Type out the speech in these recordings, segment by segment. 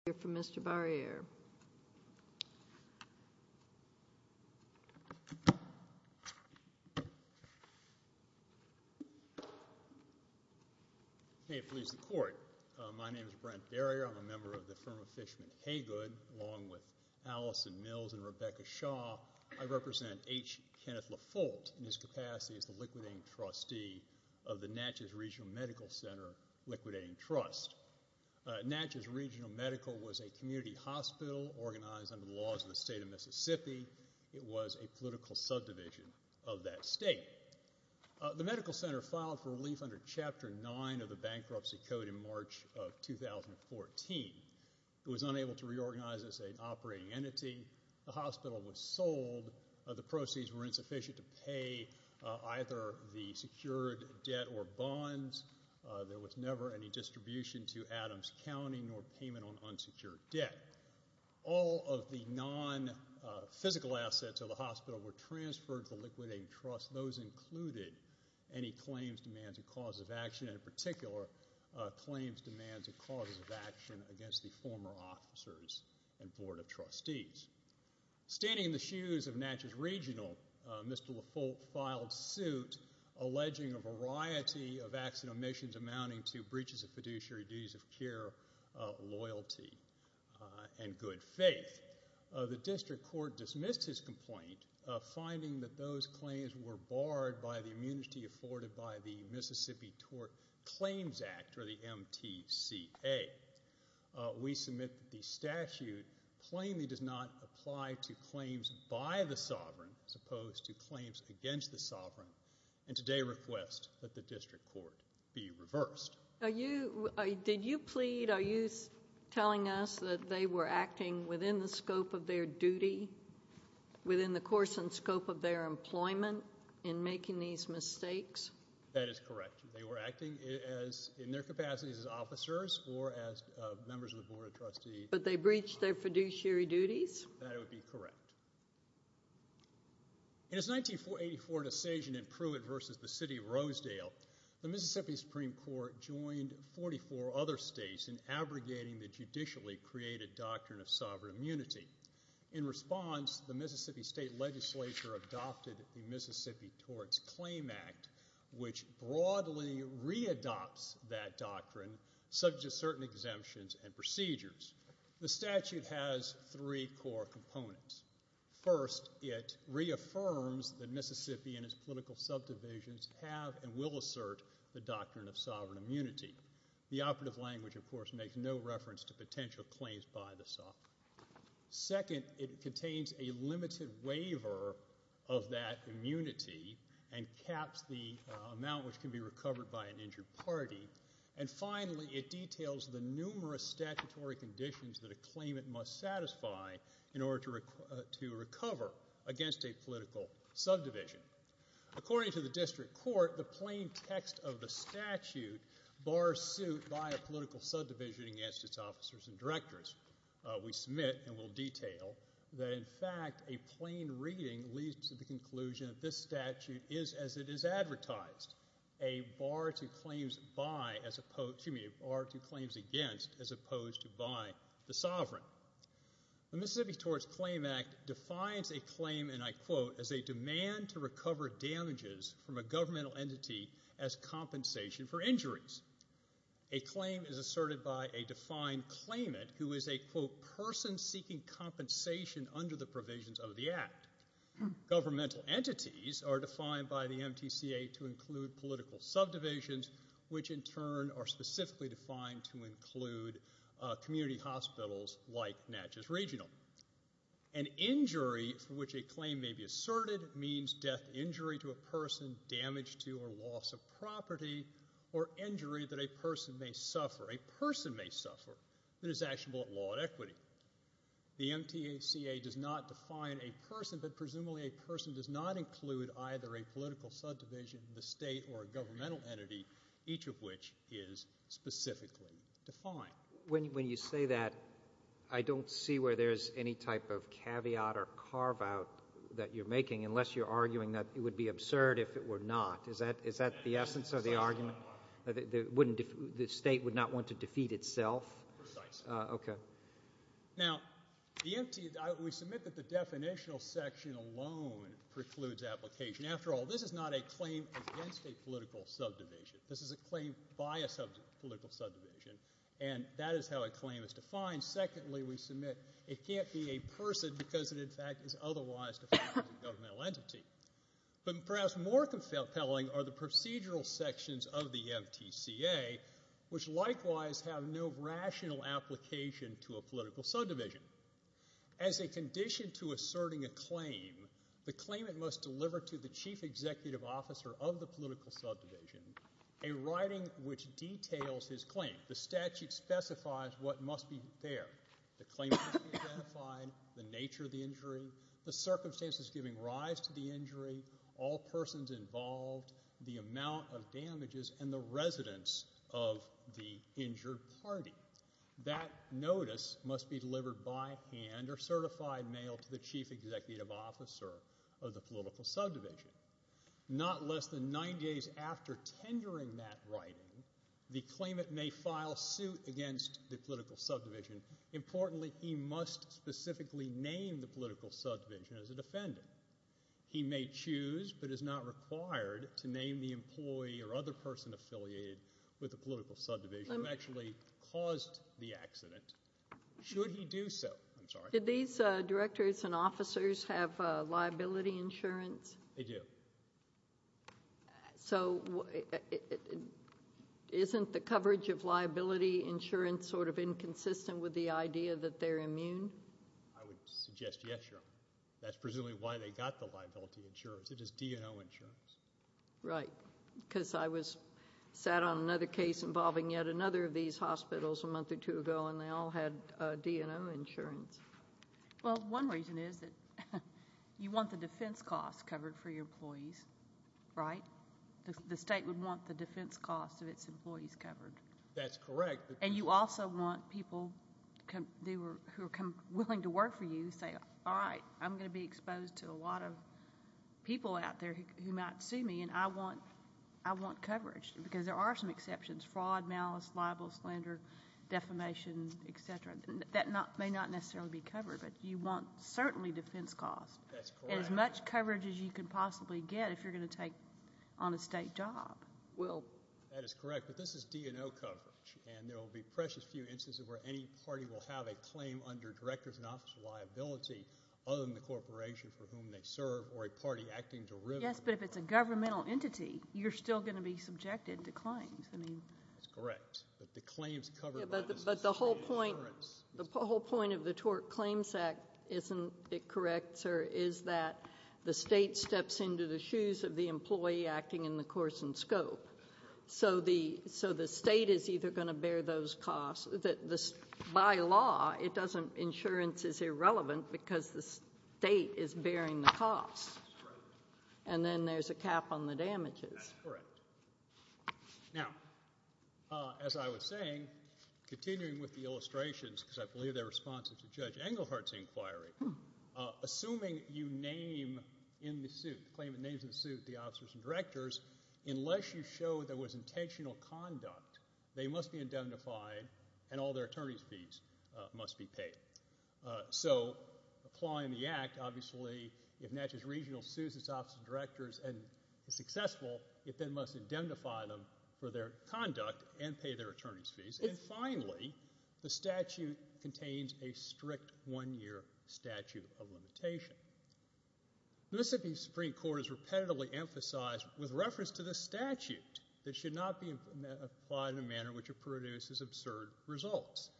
H. Kenneth Lefoldt, Jr. v. Donald Rentfro, Jr. was a community hospital organized under the laws of the state of Mississippi. It was a political subdivision of that state. The Medical Center filed for relief under Chapter 9 of the Bankruptcy Code in March of 2014. It was unable to reorganize as an operating entity. The hospital was sold. The proceeds were insufficient to pay either the secured debt or bonds. There was never any distribution to Adams County nor payment on unsecured debt. All of the non-physical assets of the hospital were transferred to the Liquidating Trust. Those included any claims, demands, or causes of action, in particular, claims, demands, or causes of action against the former officers and board of trustees. Standing in the shoes of Natchez Regional, Mr. Lefoldt filed suit alleging a variety of acts and omissions amounting to breaches of fiduciary duties of care, loyalty, and good faith. The district court dismissed his complaint, finding that those claims were barred by the immunity afforded by the Mississippi Tort Claims Act, or the MTCA. We submit that the statute plainly does not apply to claims by the sovereign as opposed to claims against the sovereign, and today request that the district court be reversed. Did you plead, are you telling us that they were acting within the scope of their duty, within the course and scope of their employment, in making these mistakes? That is correct. They were acting in their capacities as officers or as members of the In his 1984 decision in Pruitt v. The City of Rosedale, the Mississippi Supreme Court joined 44 other states in abrogating the judicially created doctrine of sovereign immunity. In response, the Mississippi State Legislature adopted the Mississippi Torts Claim Act, which broadly re-adopts that doctrine, subject to certain exemptions and procedures. The statute has three core components. First, it reaffirms that Mississippi and its political subdivisions have and will assert the doctrine of sovereign immunity. The operative language, of course, makes no reference to potential claims by the sovereign. Second, it contains a limited waiver of that immunity and caps the amount which can be recovered by an injured party. And finally, it details the numerous statutory conditions that a claimant must satisfy in order to recover against a political subdivision. According to the District Court, the plain text of the statute bars suit by a political subdivision against its officers and directors. We submit and will detail that in fact a plain reading leads to the conclusion that this is a claim to buy as opposed to by the sovereign. The Mississippi Torts Claim Act defines a claim, and I quote, as a demand to recover damages from a governmental entity as compensation for injuries. A claim is asserted by a defined claimant who is a, quote, person seeking compensation under the provisions of the act. Governmental entities are defined by the MTCA to include political subdivisions, which in turn are specifically defined to include community hospitals like Natchez Regional. An injury for which a claim may be asserted means death injury to a person, damage to or loss of property, or injury that a person may suffer. A person may suffer. It is actionable at law and equity. The MTACA does not define a person, but presumably a person does not include either a political subdivision, the state, or a governmental entity, each of which is specifically defined. When you say that, I don't see where there's any type of caveat or carve-out that you're making unless you're arguing that it would be absurd if it were not. Is that the essence of the argument? The state would not want to defeat itself? Precisely. Okay. Now, the MTA, we submit that the definitional section alone precludes application. After all, this is not a claim against a political subdivision. This is a claim by a political subdivision, and that is how a claim is defined. Secondly, we submit it can't be a person because it, in fact, is otherwise defined as a governmental entity. But perhaps more compelling are the procedural sections of the MTCA, which likewise have no rational application to a political subdivision. As a condition to asserting a claim, the claimant must deliver to the chief executive officer of the political subdivision a writing which details his claim. The statute specifies what must be there. The claimant must be identified, the nature of the injury, the circumstances giving rise to the injury, all persons involved, the amount of damages, and the residence of the injured party. That notice must be delivered by hand or certified mail to the chief executive officer of the political subdivision. Not less than nine days after tendering that writing, the claimant may file suit against the political subdivision. Importantly, he must specifically name the political subdivision as a defendant. He may choose but is not required to name the employee or other person affiliated with the political subdivision who actually caused the accident. Should he do so? I'm sorry. Did these directors and officers have liability insurance? They do. So isn't the coverage of liability insurance sort of inconsistent with the idea that they're immune? I would suggest yes, Your Honor. That's presumably why they got the liability insurance. It is D&O insurance. Right, because I was sat on another case involving yet another of these hospitals a month or two ago and they all had D&O insurance. Well, one reason is that you want the defense costs covered for your employees, right? The state would want the defense costs of its employees covered. That's correct. And you also want people who are willing to work for you to say, all right, I'm going to be exposed to a lot of people out there who might sue me and I want coverage because there are some exceptions, fraud, malice, libel, slander, defamation, etc. That may not necessarily be covered, but you want certainly defense costs. That's correct. As much coverage as you can possibly get if you're going to take on a state job. That is correct, but this is D&O coverage and there will be precious few instances where any party will have a claim under director's in-office liability other than the corporation for whom they serve or a party acting derivative. Yes, but if it's a governmental entity, you're still going to be subjected to claims. That's correct, but the claims covered by the state insurance. But the whole point of the TORC Claims Act isn't it correct, sir, is that the state steps into the shoes of the employee acting in the course and scope. So the state is either going to bear those costs. By law, it doesn't insurance is irrelevant because the state is bearing the costs. And then there's a cap on the damages. That's correct. Now, as I was saying, continuing with the illustrations because I believe they're responsive to Judge Englehart's inquiry, assuming you name in the suit, the claimant names in the suit the officers and directors, unless you show there was intentional conduct, they must be indemnified and all their attorney's fees must be paid. So applying the act, obviously, if Natchez Regional sues its officers and directors and is successful, it then must indemnify them for their conduct and pay their attorney's fees. And finally, the statute contains a strict one-year statute of limitation. This Supreme Court has repetitively emphasized with reference to the statute that should not be applied in a manner which produces absurd results.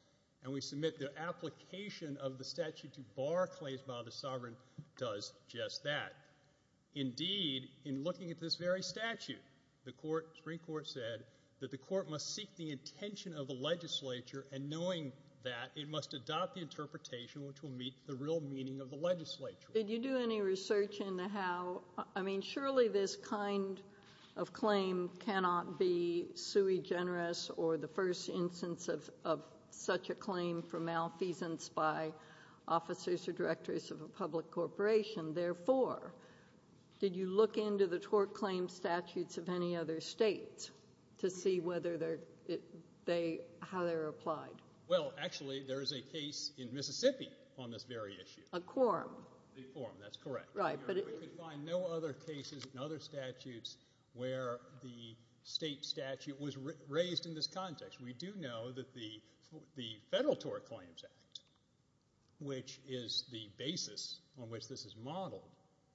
And we submit the application of the statute to bar claims by the sovereign does just that. Indeed, in looking at this very statute, the Supreme Court said that the court must seek the intention of the legislature and knowing that, it must adopt the interpretation which will meet the real meaning of the legislature. Did you do any research into how, I mean, surely this kind of claim cannot be sui generis or the first instance of such a claim for malfeasance by officers or directors of a public corporation. Therefore, did you look into the tort claim statutes of any other state to see whether they, how they're applied? Well, actually, there is a case in Mississippi on this very issue. A quorum. A quorum, that's correct. Right, but it... We could find no other cases and other statutes where the state statute was raised in this context. We do know that the Federal Tort Claims Act, which is the basis on which this is modeled,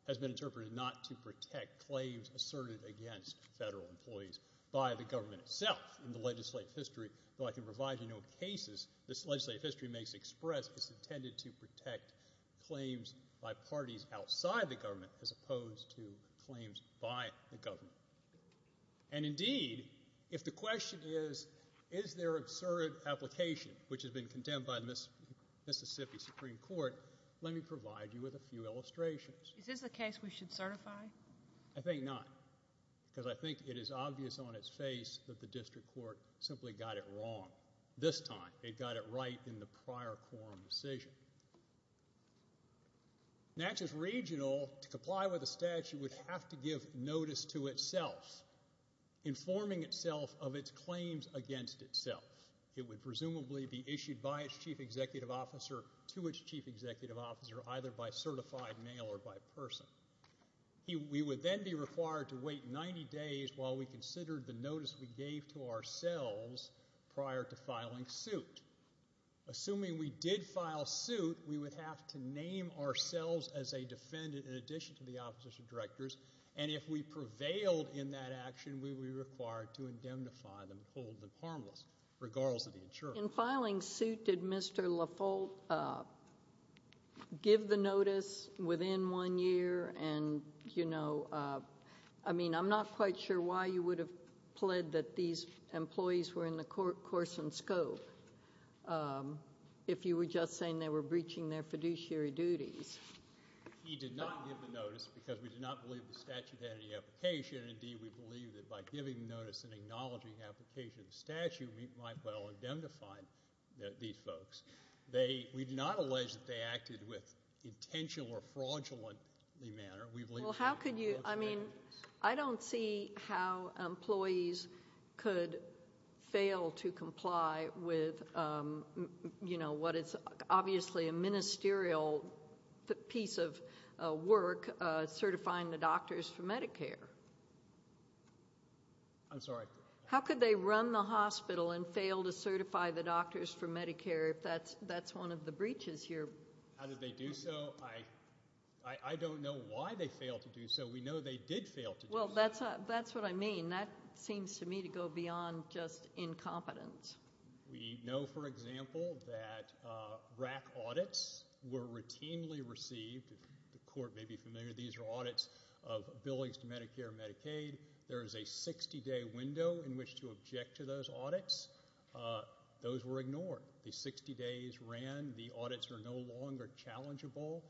has been interpreted not to protect claims asserted against federal employees by the government itself. In the legislative history, though I can provide you no cases, this legislative history makes express it's intended to protect claims by parties outside the government as opposed to claims by the government. And indeed, if the question is, is there absurd application, which has been condemned by the Mississippi Supreme Court, let me provide you with a few illustrations. Is this a case we should certify? I think not, because I think it is obvious on its face that the district court simply got it wrong this time. They got it right in the prior quorum decision. Natchez Regional, to comply with the statute, would have to give notice to itself, informing itself of its claims against itself. It would presumably be issued by its chief executive officer to its chief executive officer, either by certified mail or by person. We would then be required to wait 90 days while we considered the notice we gave to ourselves prior to filing suit. Assuming we did file suit, we would have to name ourselves as a defendant in addition to the opposite of directors, and if we prevailed in that action, we would be required to indemnify them and hold them harmless, regardless of the insurer. In filing suit, did Mr. LaFolt give the notice within one year, and, you know, was there a, I mean, I'm not quite sure why you would have pled that these employees were in the course and scope if you were just saying they were breaching their fiduciary duties. He did not give the notice because we did not believe the statute had any application. Indeed, we believe that by giving the notice and acknowledging the application of the statute, we might well indemnify these folks. We do not allege that they acted with intentional or fraudulent manner. Well, how could you, I mean, I don't see how employees could fail to comply with, you know, what is obviously a ministerial piece of work, certifying the doctors for Medicare. I'm sorry? How could they run the hospital and fail to certify the doctors for Medicare if that's one of the breaches here? How did they do so? I don't know why they failed to do so. We know they did fail to do so. Well, that's what I mean. That seems to me to go beyond just incompetence. We know, for example, that RAC audits were routinely received. The court may be familiar. These are audits of billings to Medicare and Medicaid. There is a 60-day window in which to object to those audits. Those were ignored. The 60 days ran. The audits are no longer challengeable.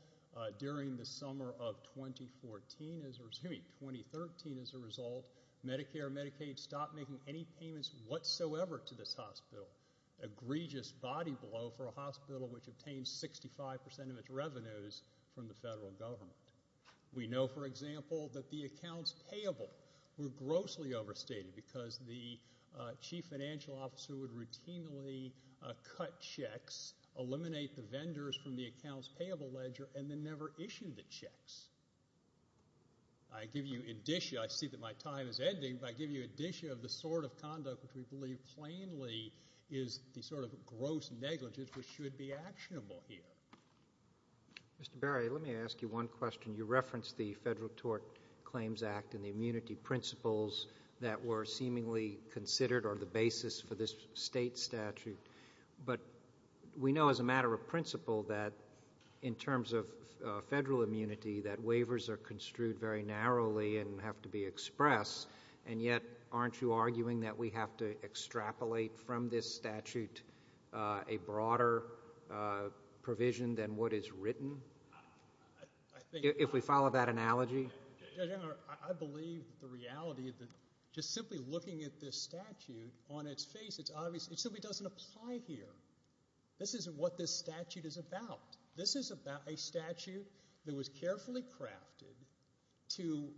During the summer of 2014, excuse me, 2013, as a result, Medicare and Medicaid stopped making any payments whatsoever to this hospital. Egregious body blow for a hospital which obtained 65% of its revenues from the federal government. We know, for example, that the accounts payable were grossly overstated because the chief financial officer would routinely cut checks, eliminate the vendors from the accounts payable ledger, and then never issue the checks. I give you indicia. I see that my time is ending, but I give you indicia of the sort of conduct which we believe plainly is the sort of gross negligence which should be actionable here. Mr. Berry, let me ask you one question. You referenced the Federal Tort Claims Act and the immunity principles that were seemingly considered or the basis for this state statute, but we know as a matter of principle that in terms of federal immunity that waivers are construed very narrowly and have to be expressed, and yet aren't you arguing that we have to extrapolate from this statute a broader provision than what is written? If we follow that analogy? Judge Engler, I believe the reality of just simply looking at this statute on its face, it simply doesn't apply here. This is what this statute is about. This is about a statute that was carefully crafted to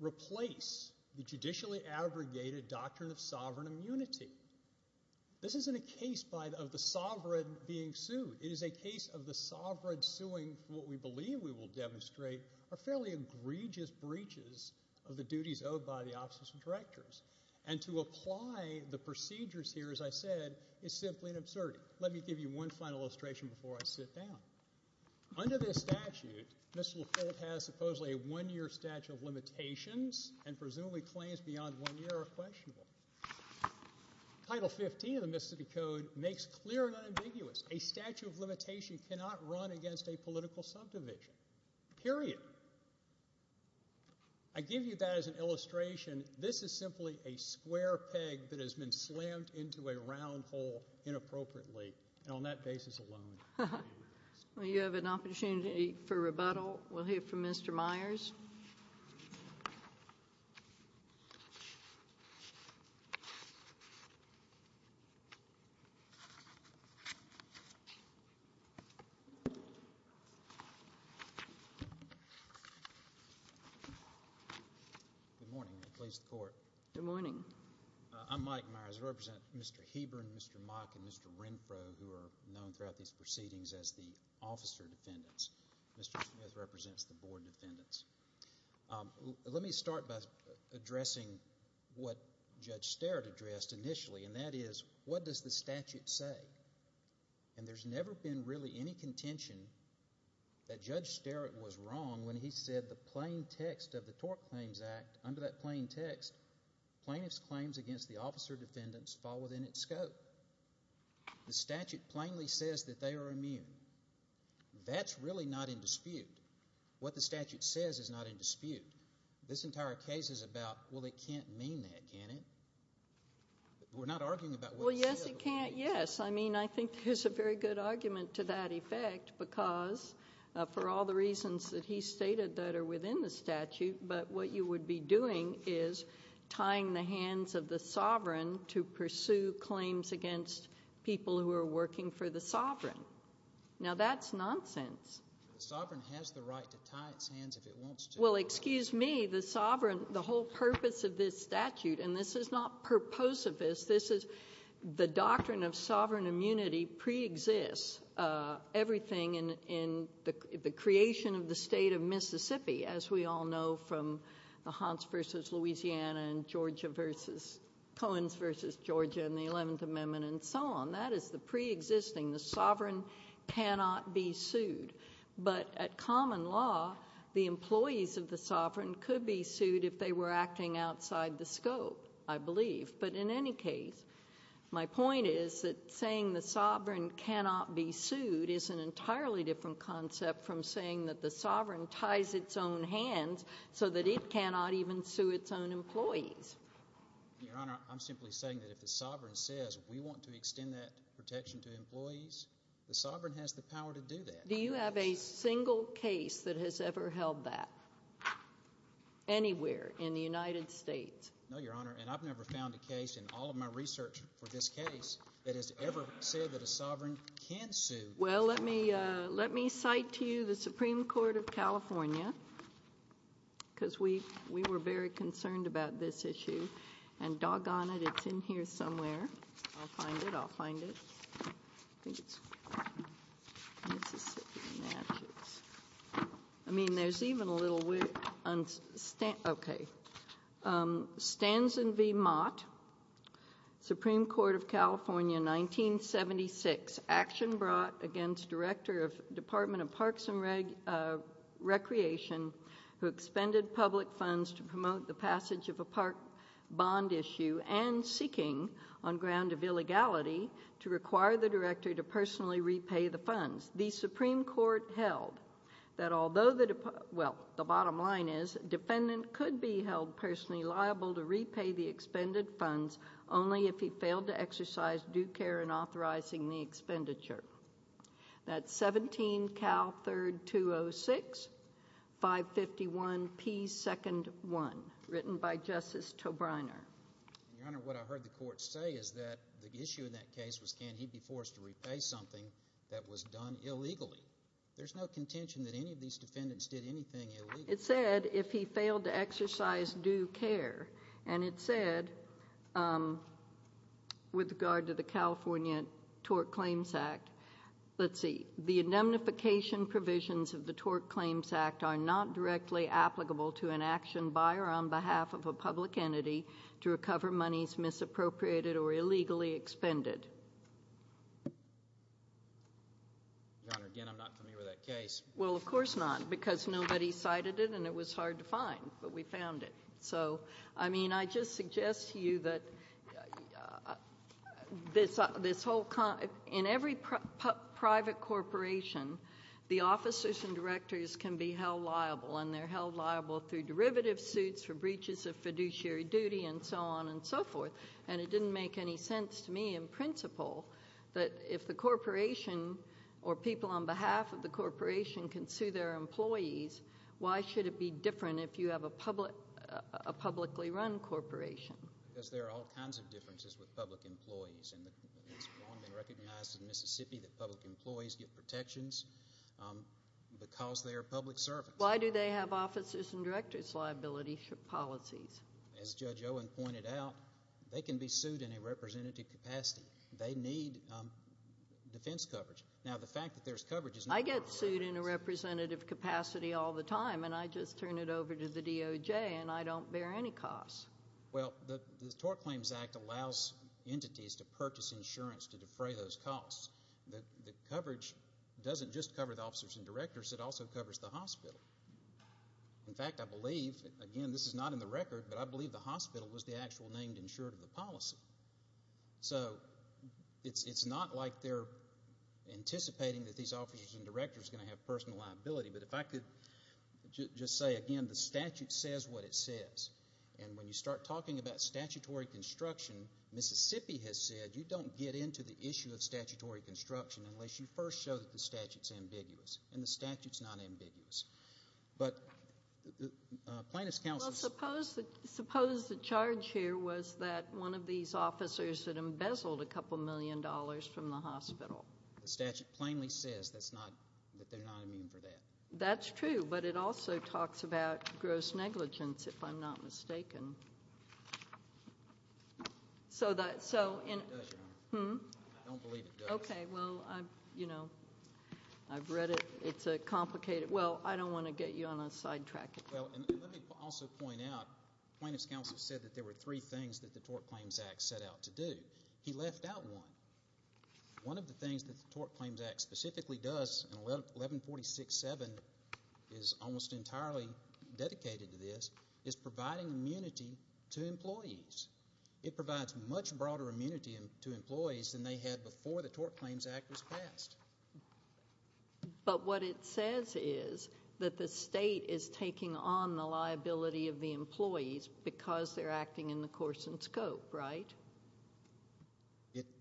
replace the judicially aggregated doctrine of sovereign immunity. This isn't a case of the sovereign being sued. It is a case of the sovereign suing for what we believe we will demonstrate are fairly egregious breaches of the duties owed by the offices of directors, and to apply the procedures here, as I said, is simply an absurdity. Let me give you one final illustration before I sit down. Under this statute, Mr. LaForte has supposedly a one-year statute of limitations and presumably claims beyond one year are questionable. Title 15 of the Mississippi Code makes clear and unambiguous, a statute of limitation cannot run against a political subdivision, period. I give you that as an illustration. This is simply a square peg that has been slammed into a round hole inappropriately, and on that basis alone. Well, you have an opportunity for rebuttal. We'll hear from Mr. Myers. Thank you. Good morning. Please, the Court. Good morning. I'm Mike Myers. I represent Mr. Heber and Mr. Mock and Mr. Renfrow, who are known throughout these proceedings as the officer defendants. Mr. Smith represents the board defendants. Let me start by addressing what Judge Starrett addressed initially, and that is, what does the statute say? And there's never been really any contention that Judge Starrett was wrong when he said the plain text of the Tort Claims Act, under that plain text, plaintiff's claims against the officer defendants fall within its scope. The statute plainly says that they are immune. That's really not in dispute. What the statute says is not in dispute. This entire case is about, well, it can't mean that, can it? We're not arguing about what it says. Well, yes, it can. Yes. I mean, I think there's a very good argument to that effect because, for all the reasons that he stated that are within the statute, but what you would be doing is tying the hands of the sovereign to pursue claims against people who are working for the sovereign. Now, that's nonsense. The sovereign has the right to tie its hands if it wants to. Well, excuse me. The sovereign, the whole purpose of this statute, and this is not purposivist. This is the doctrine of sovereign immunity preexists everything in the creation of the state of Mississippi, as we all know from the Hunts v. Louisiana and Georgia v. Coens v. Georgia and the 11th Amendment and so on. That is the preexisting. The sovereign cannot be sued. But at common law, the employees of the sovereign could be sued if they were acting outside the scope, I believe. But in any case, my point is that saying the sovereign cannot be sued is an entirely different concept from saying that the sovereign ties its own hands so that it cannot even sue its own employees. Your Honor, I'm simply saying that if the sovereign says, we want to extend that protection to employees, the sovereign has the power to do that. Do you have a single case that has ever held that anywhere in the United States? No, Your Honor, and I've never found a case in all of my research for this case that has ever said that a sovereign can sue. Well, let me cite to you the Supreme Court of California because we were very concerned about this issue. And doggone it, it's in here somewhere. I'll find it, I'll find it. I think it's in Mississippi, Massachusetts. I mean, there's even a little... Okay. Stanson v. Mott, Supreme Court of California, 1976. Action brought against Director of Department of Parks and Recreation who expended public funds to promote the passage of a park bond issue and seeking, on ground of illegality, to require the director to personally repay the funds. The Supreme Court held that although the... Well, the bottom line is, defendant could be held personally liable to repay the expended funds That's 17-Cal-3-2-0-6-551-P-2-1, written by Justice Tobriner. Your Honor, what I heard the court say is that the issue in that case was can he be forced to repay something that was done illegally. There's no contention that any of these defendants did anything illegally. It said if he failed to exercise due care. And it said, with regard to the California Tort Claims Act, let's see, the indemnification provisions of the Tort Claims Act are not directly applicable to an action by or on behalf of a public entity to recover monies misappropriated or illegally expended. Your Honor, again, I'm not familiar with that case. Well, of course not, because nobody cited it and it was hard to find, but we found it. So, I mean, I just suggest to you that this whole... In every private corporation, the officers and directors can be held liable and they're held liable through derivative suits, for breaches of fiduciary duty, and so on and so forth. And it didn't make any sense to me in principle that if the corporation or people on behalf of the corporation can sue their employees, why should it be different if you have a publicly run corporation? Because there are all kinds of differences with public employees and it's long been recognized in Mississippi that public employees get protections because they're public servants. Why do they have officers and directors' liability policies? As Judge Owen pointed out, they can be sued in a representative capacity. They need defense coverage. Now, the fact that there's coverage... I get sued in a representative capacity all the time and I just turn it over to the DOJ and I don't bear any costs. Well, the Tort Claims Act allows entities to purchase insurance to defray those costs. The coverage doesn't just cover the officers and directors, it also covers the hospital. In fact, I believe... Again, this is not in the record, but I believe the hospital was the actual named insurer of the policy. So it's not like they're anticipating that these officers and directors are going to have personal liability. But if I could just say again, the statute says what it says. And when you start talking about statutory construction, Mississippi has said, you don't get into the issue of statutory construction unless you first show that the statute's ambiguous. And the statute's not ambiguous. But plaintiff's counsel... Well, suppose the charge here was that one of these officers had embezzled a couple million dollars from the hospital. The statute plainly says that they're not immune for that. That's true, but it also talks about gross negligence, if I'm not mistaken. So that... It does, Your Honor. Hmm? I don't believe it does. Okay, well, I've read it. It's a complicated... Well, I don't want to get you on a sidetrack. Well, and let me also point out, plaintiff's counsel said that there were 3 things that the Tort Claims Act set out to do. He left out one. One of the things that the Tort Claims Act specifically does, and 1146.7 is almost entirely dedicated to this, is providing immunity to employees. It provides much broader immunity to employees than they had before the Tort Claims Act was passed. But what it says is that the state is taking on the liability of the employees because they're acting in the course and scope, right?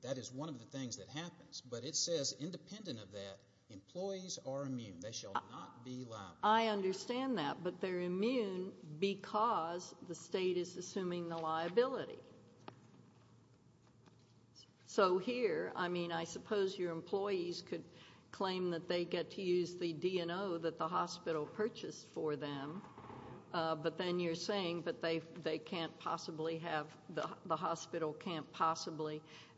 That is one of the things that happens. But it says, independent of that, employees are immune. They shall not be liable. I understand that, but they're immune because the state is assuming the liability. So here, I mean, I suppose your employees could claim that they get to use the D&O that the hospital purchased for them, but then you're saying that they can't possibly have... the hospital can't possibly... the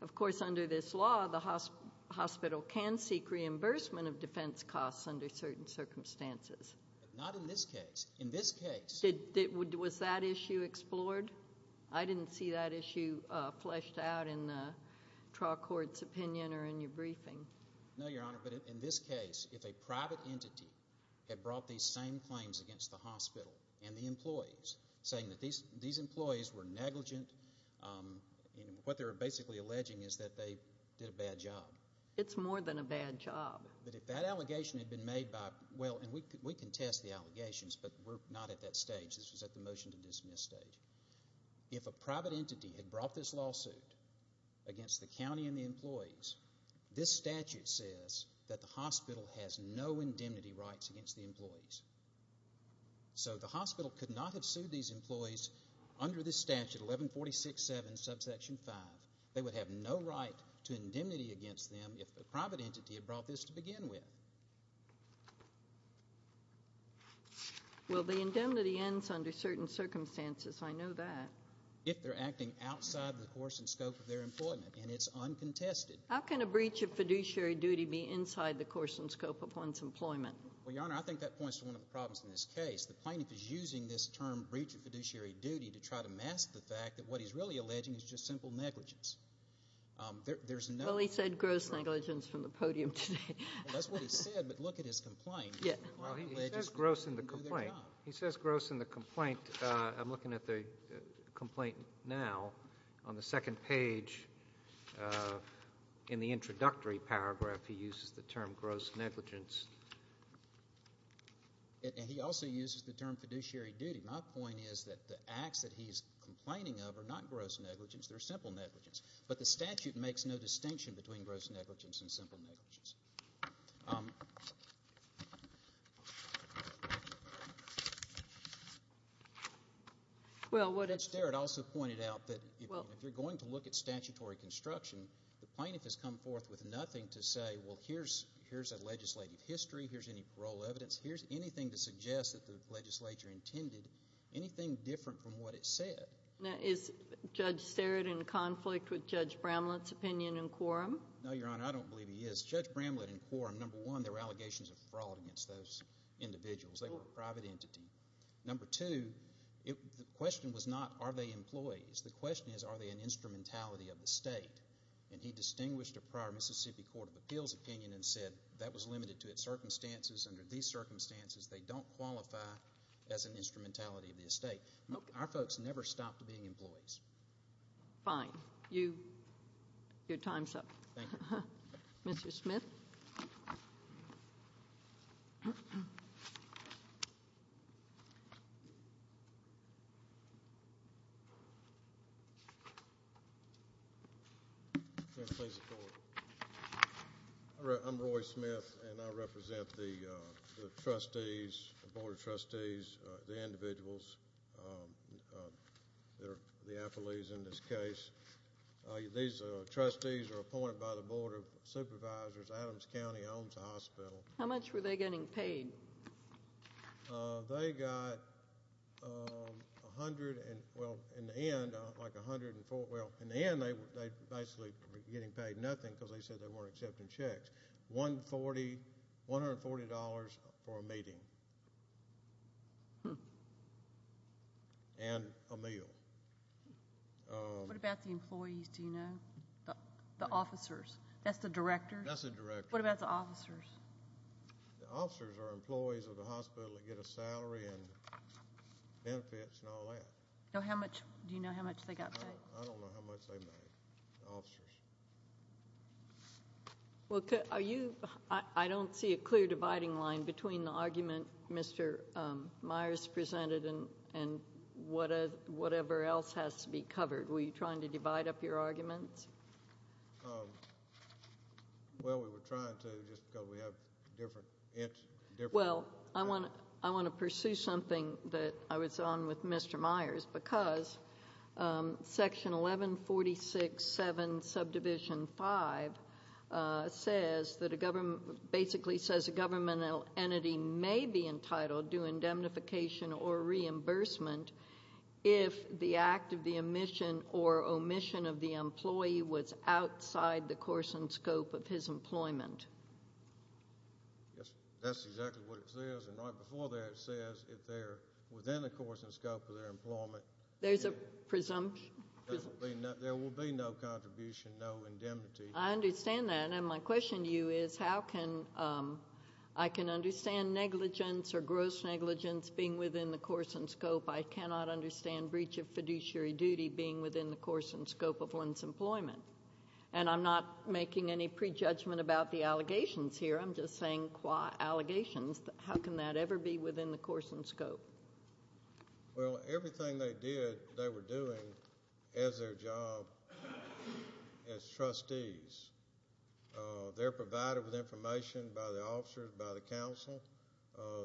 hospital can seek reimbursement of defence costs under certain circumstances. Not in this case. In this case... Was that issue explored? I didn't see that issue fleshed out in the trial court's opinion or in your briefing. No, Your Honour, but in this case, if a private entity had brought these same claims against the hospital and the employees, saying that these employees were negligent, what they were basically alleging is that they did a bad job. It's more than a bad job. But if that allegation had been made by... Well, and we can test the allegations, but we're not at that stage. This was at the motion-to-dismiss stage. If a private entity had brought this lawsuit against the county and the employees, this statute says that the hospital has no indemnity rights against the employees. So the hospital could not have sued these employees under this statute, 1146.7, subsection 5. They would have no right to indemnity against them if a private entity had brought this to begin with. Well, the indemnity ends under certain circumstances. I know that. If they're acting outside the course and scope of their employment, and it's uncontested. How can a breach of fiduciary duty be inside the course and scope of one's employment? Well, Your Honour, I think that points to one of the problems in this case. The plaintiff is using this term, breach of fiduciary duty, to try to mask the fact that what he's really alleging is just simple negligence. There's no... Well, he said gross negligence from the podium today. That's what he said, but look at his complaint. He says gross in the complaint. He says gross in the complaint. I'm looking at the complaint now. On the second page, in the introductory paragraph, he uses the term gross negligence. And he also uses the term fiduciary duty. My point is that the acts that he's complaining of are not gross negligence, they're simple negligence. But the statute makes no distinction between gross negligence and simple negligence. Judge Derrett also pointed out that if you're going to look at statutory construction, the plaintiff has come forth with nothing to say, well, here's a legislative history, here's any parole evidence, here's anything to suggest that the legislature intended, anything different from what it said. Now, is Judge Sterrett in conflict with Judge Bramlett's opinion in quorum? No, Your Honour, I don't believe he is. Judge Bramlett in quorum, number one, there were allegations of fraud against those individuals. They were a private entity. Number two, the question was not, are they employees? The question is, are they an instrumentality of the state? And he distinguished a prior Mississippi Court of Appeals opinion and said that was limited to its circumstances. Under these circumstances, they don't qualify as an instrumentality of the state. Our folks never stopped being employees. Fine. Your time's up. Mr. Smith. Thank you. I'm Roy Smith, and I represent the trustees, the Board of Trustees, the individuals, the affilees in this case. Adams County owns the hospital. How much were they getting paid? They got a hundred and, well, in the end, like a hundred and four. Well, in the end, they were basically getting paid nothing because they said they weren't accepting checks. $140 for a meeting. And a meal. What about the employees, do you know? The officers. That's the directors? That's the directors. What about the officers? The officers are employees of the hospital that get a salary and benefits and all that. Do you know how much they got paid? I don't know how much they made, the officers. Well, are you, I don't see a clear dividing line between the argument Mr. Myers presented and whatever else has to be covered. Were you trying to divide up your arguments? Well, we were trying to just because we have different. Well, I want to pursue something that I was on with Mr. Myers because Section 1146.7 Subdivision 5 says that a government, basically says a governmental entity may be entitled to indemnification or reimbursement if the act of the omission or omission of the employee was outside the course and scope of his employment. Yes, that's exactly what it says and right before there it says if they're within the course and scope of their employment. There's a presumption. There will be no contribution, no indemnity. I understand that and my question to you is how can, I can understand negligence or gross negligence being within the course and scope. I cannot understand breach of fiduciary duty being within the course and scope of one's employment. And I'm not making any prejudgment about the allegations here. I'm just saying allegations. How can that ever be within the course and scope? Well, everything they did, they were doing as their job They're provided with information by the officers, by the council.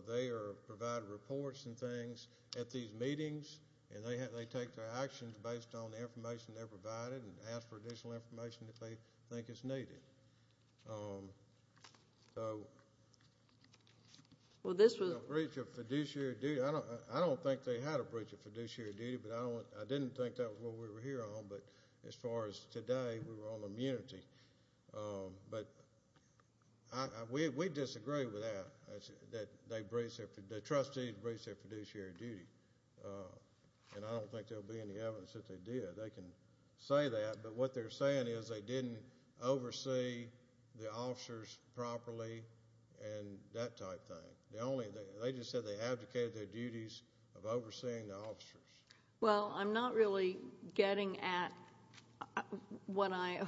They are provided reports and things at these meetings and they take their actions based on the information they're provided and ask for additional information if they think it's needed. Well, this was a breach of fiduciary duty. I don't think they had a breach of fiduciary duty, but I didn't think that was what we were here on. But as far as today, we were on immunity. But we disagree with that. The trustees breached their fiduciary duty and I don't think there will be any evidence that they did. They can say that, but what they're saying is they didn't oversee the officers properly and that type of thing. of overseeing the officers. Well, I'm not really getting at what I...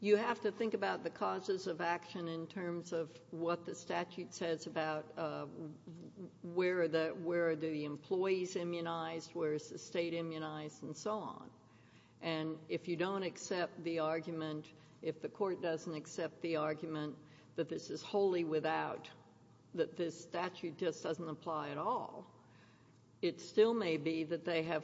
You have to think about the causes of action in terms of what the statute says about where are the employees immunized, where is the state immunized, and so on. And if you don't accept the argument, if the court doesn't accept the argument that this is wholly without, that this statute just doesn't apply at all, it still may be that they have...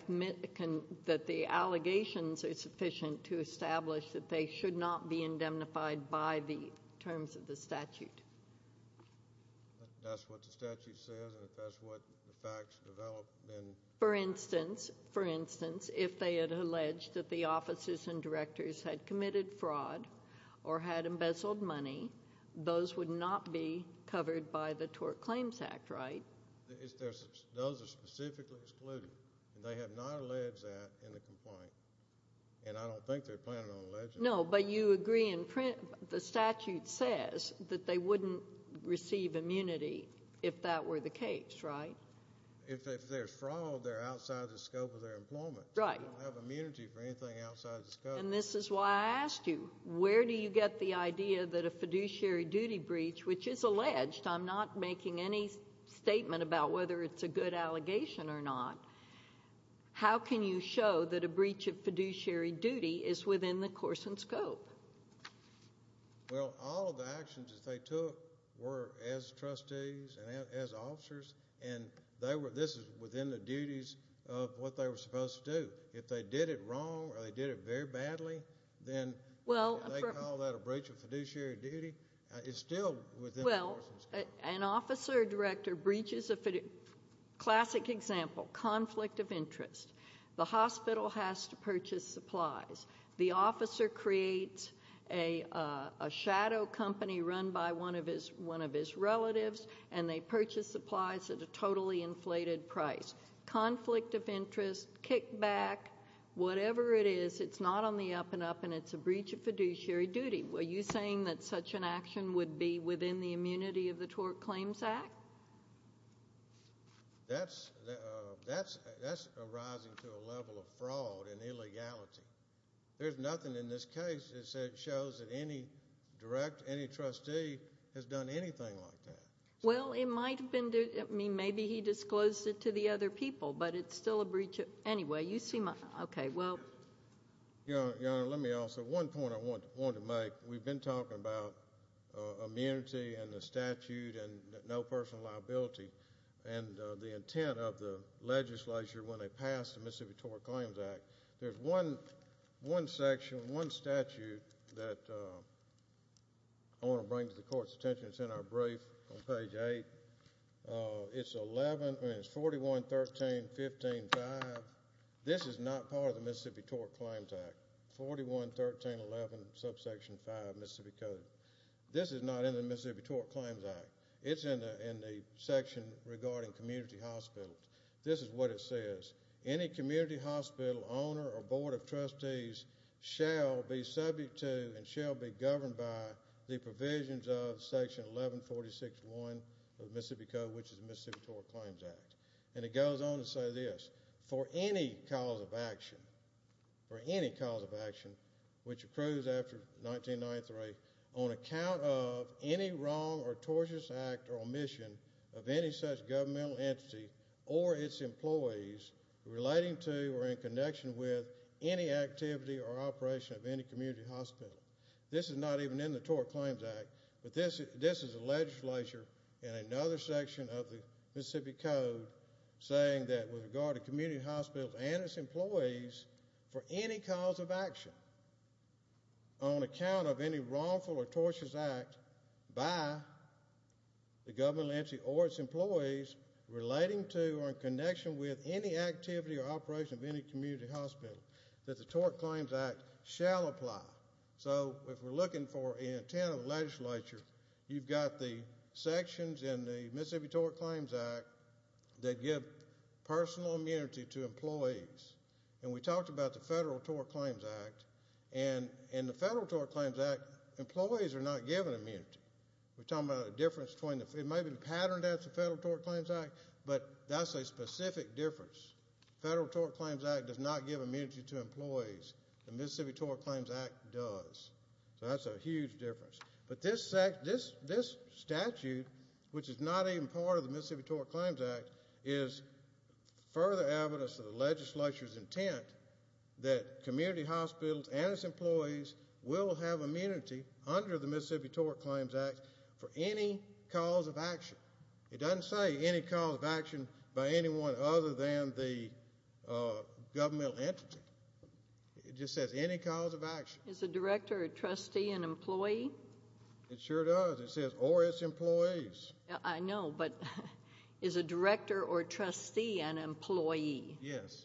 that the allegations are sufficient to establish that they should not be indemnified by the terms of the statute. If that's what the statute says and if that's what the facts develop, then... For instance, for instance, if they had alleged that the officers and directors had committed fraud or had embezzled money, those would not be covered by the Tort Claims Act, right? Those are specifically excluded, and they have not alleged that in the complaint, and I don't think they're planning on alleging it. No, but you agree in print... The statute says that they wouldn't receive immunity if that were the case, right? If there's fraud, they're outside the scope of their employment. Right. They don't have immunity for anything outside the scope. And this is why I asked you, where do you get the idea that a fiduciary duty breach, which is alleged, I'm not making any statement about whether it's a good allegation or not, how can you show that a breach of fiduciary duty is within the course and scope? Well, all of the actions that they took were as trustees and as officers, and this is within the duties of what they were supposed to do. If they did it wrong or they did it very badly, then they call that a breach of fiduciary duty. It's still within the course of scope. Well, an officer or director breaches a fidu... Classic example, conflict of interest. The hospital has to purchase supplies. The officer creates a shadow company run by one of his relatives, and they purchase supplies at a totally inflated price. Conflict of interest, kickback, whatever it is, it's not on the up-and-up, and it's a breach of fiduciary duty. Are you saying that such an action would be within the immunity of the Tort Claims Act? That's, uh... That's arising to a level of fraud and illegality. There's nothing in this case that shows that any direct, any trustee has done anything like that. Well, it might have been... Maybe he disclosed it to the other people, but it's still a breach of... Anyway, you see my... Okay, well... Your Honor, let me also... One point I wanted to make. We've been talking about immunity and the statute and no personal liability and the intent of the legislature when they passed the Mississippi Tort Claims Act. There's one section, one statute, that I want to bring to the Court's attention. It's in our brief on page 8. It's 11... I mean, it's 41, 13, 15, 5. This is not part of the Mississippi Tort Claims Act. 41, 13, 11, subsection 5, Mississippi Code. This is not in the Mississippi Tort Claims Act. It's in the section regarding community hospitals. This is what it says. Any community hospital owner or board of trustees shall be subject to and shall be governed by the provisions of section 1146.1 of the Mississippi Code, which is the Mississippi Tort Claims Act. And it goes on to say this. For any cause of action, for any cause of action, which accrues after the 1993, on account of any wrong or tortious act or omission of any such governmental entity or its employees relating to or in connection with any activity or operation of any community hospital. This is not even in the Tort Claims Act, but this is a legislature in another section of the Mississippi Code saying that with regard to community hospitals and its employees, for any cause of action on account of any wrongful or tortious act by the governmental entity or its employees relating to or in connection with any activity or operation of any community hospital that the Tort Claims Act shall apply. So if we're looking for the intent of the legislature, you've got the sections in the Mississippi Tort Claims Act that give personal immunity to employees. And we talked about the Federal Tort Claims Act. And in the Federal Tort Claims Act, employees are not given immunity. We're talking about a difference between the... It might be patterned as the Federal Tort Claims Act, but that's a specific difference. The Federal Tort Claims Act does not give immunity to employees. The Mississippi Tort Claims Act does. So that's a huge difference. But this statute, which is not even part of the Mississippi Tort Claims Act, is further evidence of the legislature's intent that community hospitals and its employees will have immunity under the Mississippi Tort Claims Act for any cause of action. It doesn't say any cause of action It just says any cause of action. Is a director or trustee an employee? It sure does. It says, or its employees. I know, but is a director or trustee an employee? Yes.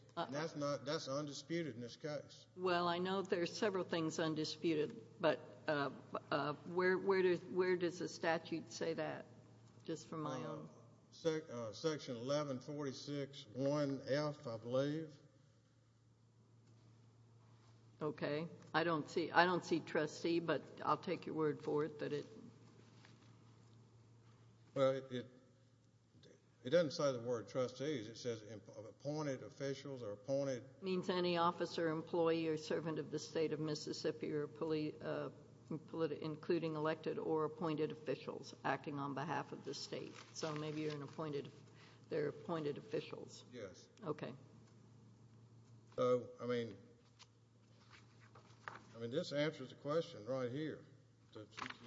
That's undisputed in this case. Well, I know there's several things undisputed, but where does the statute say that? Just from my own... Section 1146.1F, I believe. Okay. I don't see, I don't see trustee, but I'll take your word for it that it... Well, it... It doesn't say the word trustee. It says appointed officials or appointed... Means any officer, employee, or servant of the state of Mississippi or including elected or appointed officials acting on behalf of the state. So maybe you're an appointed... They're appointed officials. Yes. Okay. So, I mean... I mean, this answers the question right here. The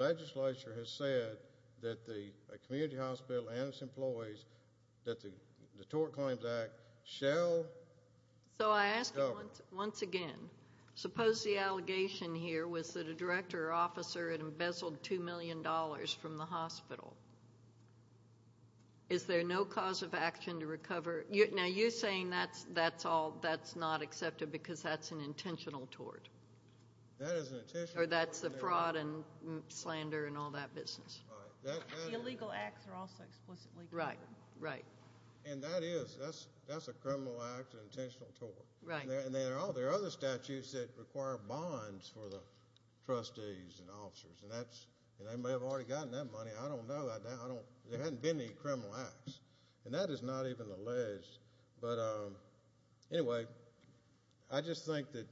legislature has said that the community hospital and its employees that the Tort Claims Act shall... So I ask you once again, suppose the allegation here was that a director or officer had embezzled $2 million from the hospital. Is there no cause of action to recover... Now, you're saying that's all... That's not accepted because that's an intentional tort. That is an intentional tort. Or that's the fraud and slander and all that business. The illegal acts are also explicitly... Right, right. And that is... That's a criminal act, an intentional tort. Right. And there are other statutes that require bonds for the trustees and officers. And that's... And they may have already gotten that money. I don't know that now. There haven't been any criminal acts. And that is not even alleged. But anyway, I just think that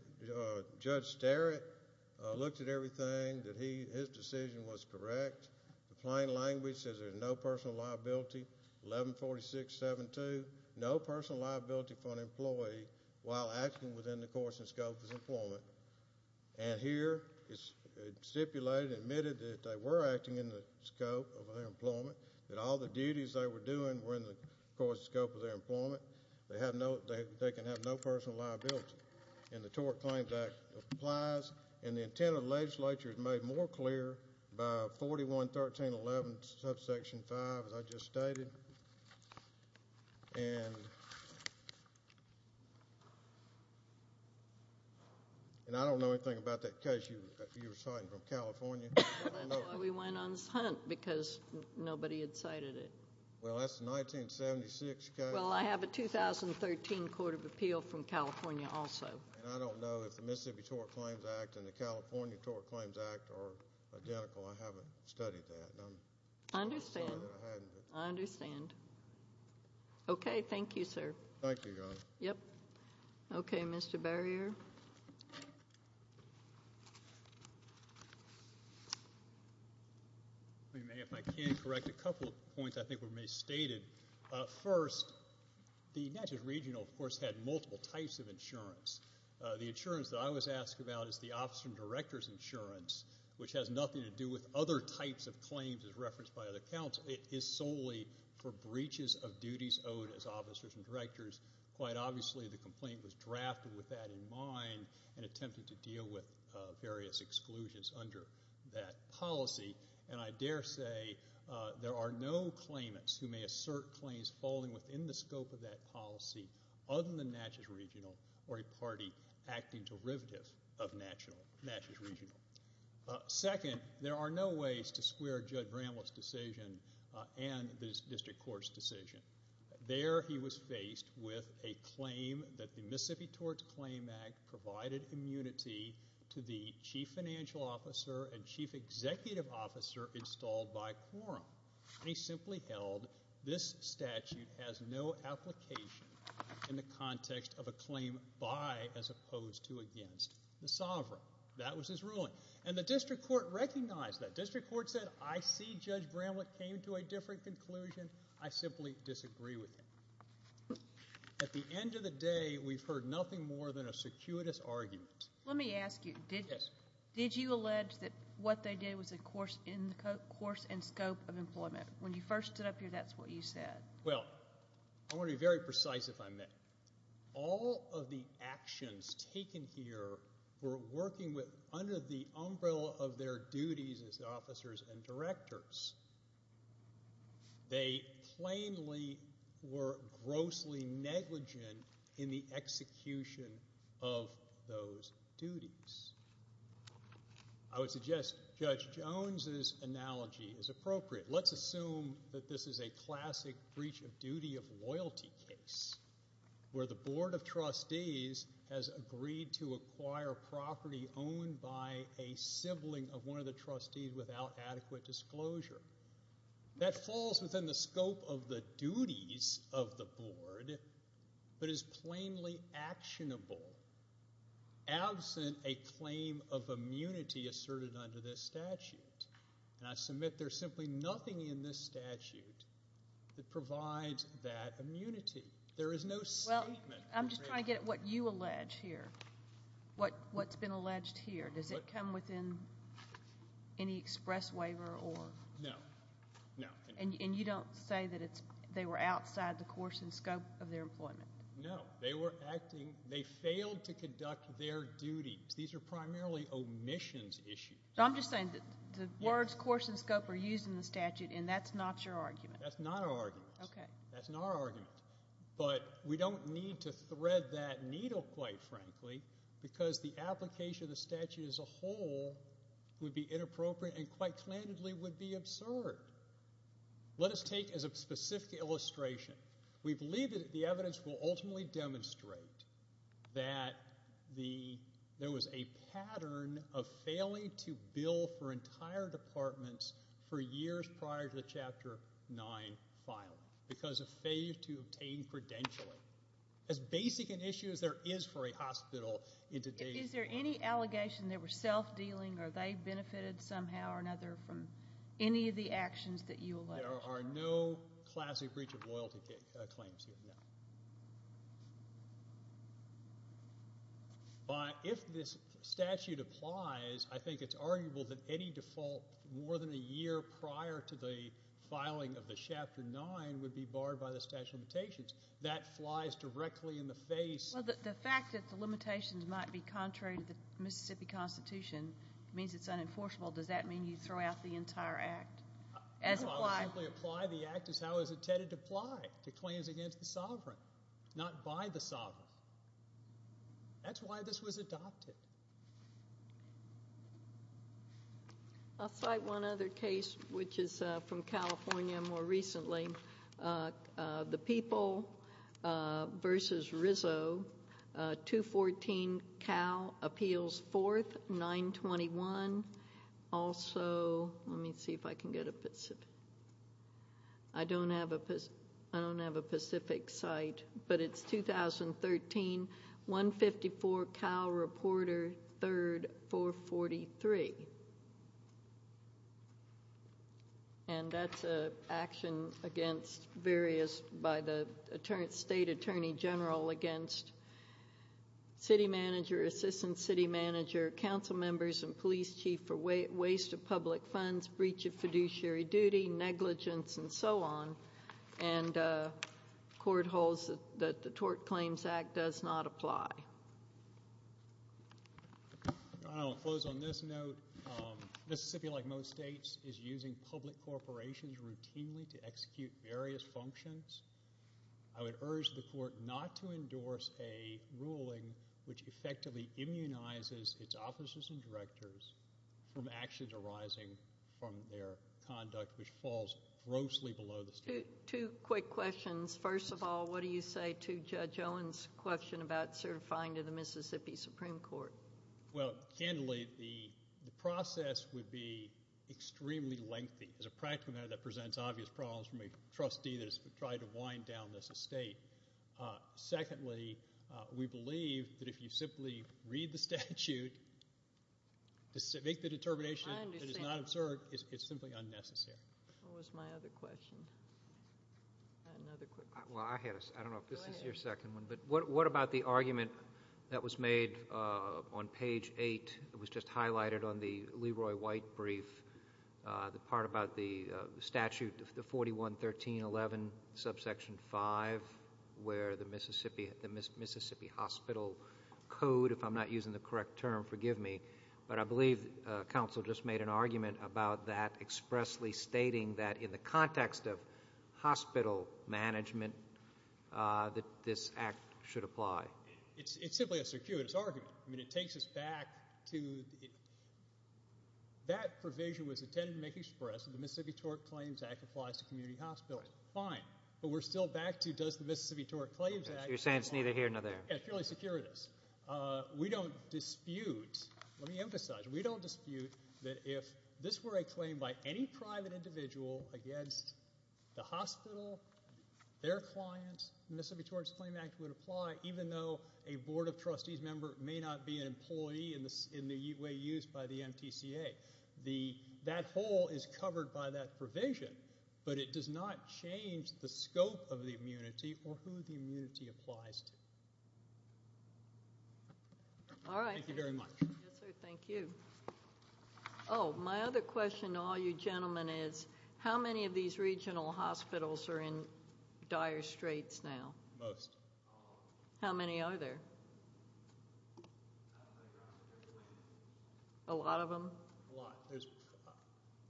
Judge Starrett looked at everything, that his decision was correct. The plain language says there's no personal liability. 114672. No personal liability for an employee while acting within the course and scope of his employment. And here, it's stipulated and admitted that they were acting in the scope of their employment, that all the duties they were doing were in the course and scope of their employment. They have no... They can have no personal liability. And the Tort Claims Act applies. And the intent of the legislature is made more clear by 411311 subsection 5, as I just stated. And... And I don't know anything about that case you were citing from California. That's why we went on this hunt, because nobody had cited it. Well, that's a 1976 case. Well, I have a 2013 Court of Appeal from California also. And I don't know if the Mississippi Tort Claims Act and the California Tort Claims Act are identical. I haven't studied that. I understand. I understand. Okay, thank you, sir. Thank you, Your Honor. Okay, Mr. Barrier. If I may, if I can correct a couple of points I think were stated. First, the Natchez Regional, of course, had multiple types of insurance. The insurance that I was asked about is the officer and director's insurance, which has nothing to do with other types of claims as referenced by other accounts. It is solely for breaches of duties owed as officers and directors. Quite obviously, the complaint was drafted with that in mind and attempted to deal with various exclusions under that policy. And I dare say there are no claimants who may assert claims falling within the scope of that policy other than Natchez Regional or a party acting derivative of Natchez Regional. Second, there are no ways to square Judge Bramlett's decision and the district court's decision. There he was faced with a claim that the Mississippi Torts Claim Act provided immunity to the chief financial officer and chief executive officer installed by Quorum. And he simply held this statute has no application in the context of a claim by as opposed to against the sovereign. That was his ruling. And the district court recognized that. District court said, I see Judge Bramlett came to a different conclusion. I simply disagree with him. At the end of the day, we've heard nothing more than a circuitous argument. Let me ask you, did you allege that what they did was in the course and scope of employment? When you first stood up here, that's what you said. Well, I want to be very precise if I may. All of the people here were working under the umbrella of their duties as officers and directors. They plainly were grossly negligent in the execution of those duties. I would suggest Judge Jones's analogy is appropriate. Let's assume that this is a classic breach of duty of loyalty case where the board of trustees has agreed to acquire property owned by a sibling of one of the trustees without adequate disclosure. That falls within the scope of the duties of the board, but is plainly actionable absent a claim of immunity asserted under this statute. And I submit there's simply nothing in this statute that provides that immunity. There is no statement. Well, I'm just trying to get at what you allege here. What's been alleged here. Does it come within any express waiver? No. And you don't say that they were outside the course and scope of their employment? No. They failed to conduct their duties. These are primarily omissions issues. I'm just saying that the words course and scope are used in the statute, and that's not your argument. That's not our argument. Okay. That's not our argument, but we don't need to thread that needle quite frankly, because the application of the statute as a whole would be inappropriate and quite plainly would be absurd. Let us take as a specific illustration. We believe that the evidence will ultimately demonstrate that there was a pattern of failing to bill for entire departments for years prior to the chapter 9 filing because of failure to obtain credentialing. As basic an issue as there is for a hospital in today's Is there any allegation they were self-dealing or they benefited somehow or another from any of the actions that you allege? There are no classic breach of loyalty claims here, no. But if this statute applies, I think it's arguable that any default more than a year prior to the filing of the chapter 9 would be barred by the statute of limitations. That flies directly in the face Well, the fact that the limitations might be contrary to the Mississippi Constitution means it's unenforceable. Does that mean you throw out the entire act? No, I would simply apply the act as how it was intended to apply to claims against the sovereign, not by the sovereign. That's why this was adopted. I'll cite one other case which is from California more recently. The People versus Rizzo 214 Cal Appeals 4th 921 also let me see if I can get a Pacific I don't have a Pacific site but it's 2013 154 Cal Reporter 3rd 443 and that's an action against various by the State Attorney General against City Manager, Assistant City Manager Council Members and Police Chief for waste of public funds breach of fiduciary duty, negligence and so on and court holds that the Tort Claims Act does not apply. I'll close on this note. Mississippi like most states is using public corporations routinely to execute various functions. I would urge the court not to endorse a ruling which effectively immunizes its officers and directors from actions arising from their conduct which falls grossly below the statute. Two quick questions. First of all, what do you say to Judge Owen's question about certifying to the Mississippi Supreme Court? Well, candidly, the process would be extremely lengthy. As a practical matter that presents obvious problems from a trustee that has tried to wind down this estate. Secondly, we believe that if you simply read the statute make the determination that it's not absurd, it's simply unnecessary. What was my other question? I had another quick question. I don't know if this is your second one but what about the argument that was made on page 8 that was just highlighted on the Leroy White brief the part about the statute of the 41-1311 subsection 5 where the Mississippi Hospital Code, if I'm not using the correct term, forgive me but I believe counsel just made an argument about that expressly stating that in the context of hospital management that this act should apply. It's simply a circuitous argument. I mean, it takes us back to that provision was intended to make express that the Mississippi TORC Claims Act applies to community hospitals. Fine. But we're still back to does the Mississippi TORC Claims Act... You're saying it's neither here nor there. It's purely circuitous. We don't dispute, let me emphasize we don't dispute that if this were a claim by any private individual against the hospital, their client the Mississippi TORC Claims Act would apply even though a board of trustees member may not be an employee in the way used by the MTCA. That whole is covered by that provision but it does not change the scope of the immunity or who the immunity applies to. Alright. Thank you very much. Yes sir, thank you. Oh, my other question to all you gentlemen is how many of these regional hospitals are in dire straits now? Most. How many are there? A lot of them? A lot.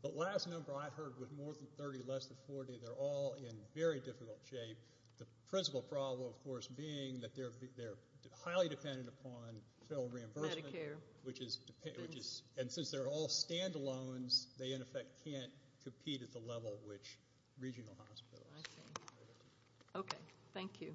The last number I heard was more than 30, less than 40. They're all in very difficult shape. The principal problem of course being that they're highly dependent upon federal reimbursement. Medicare. And since they're all stand-alone they in effect can't compete at the level which regional hospitals. I see. Okay. Thank you.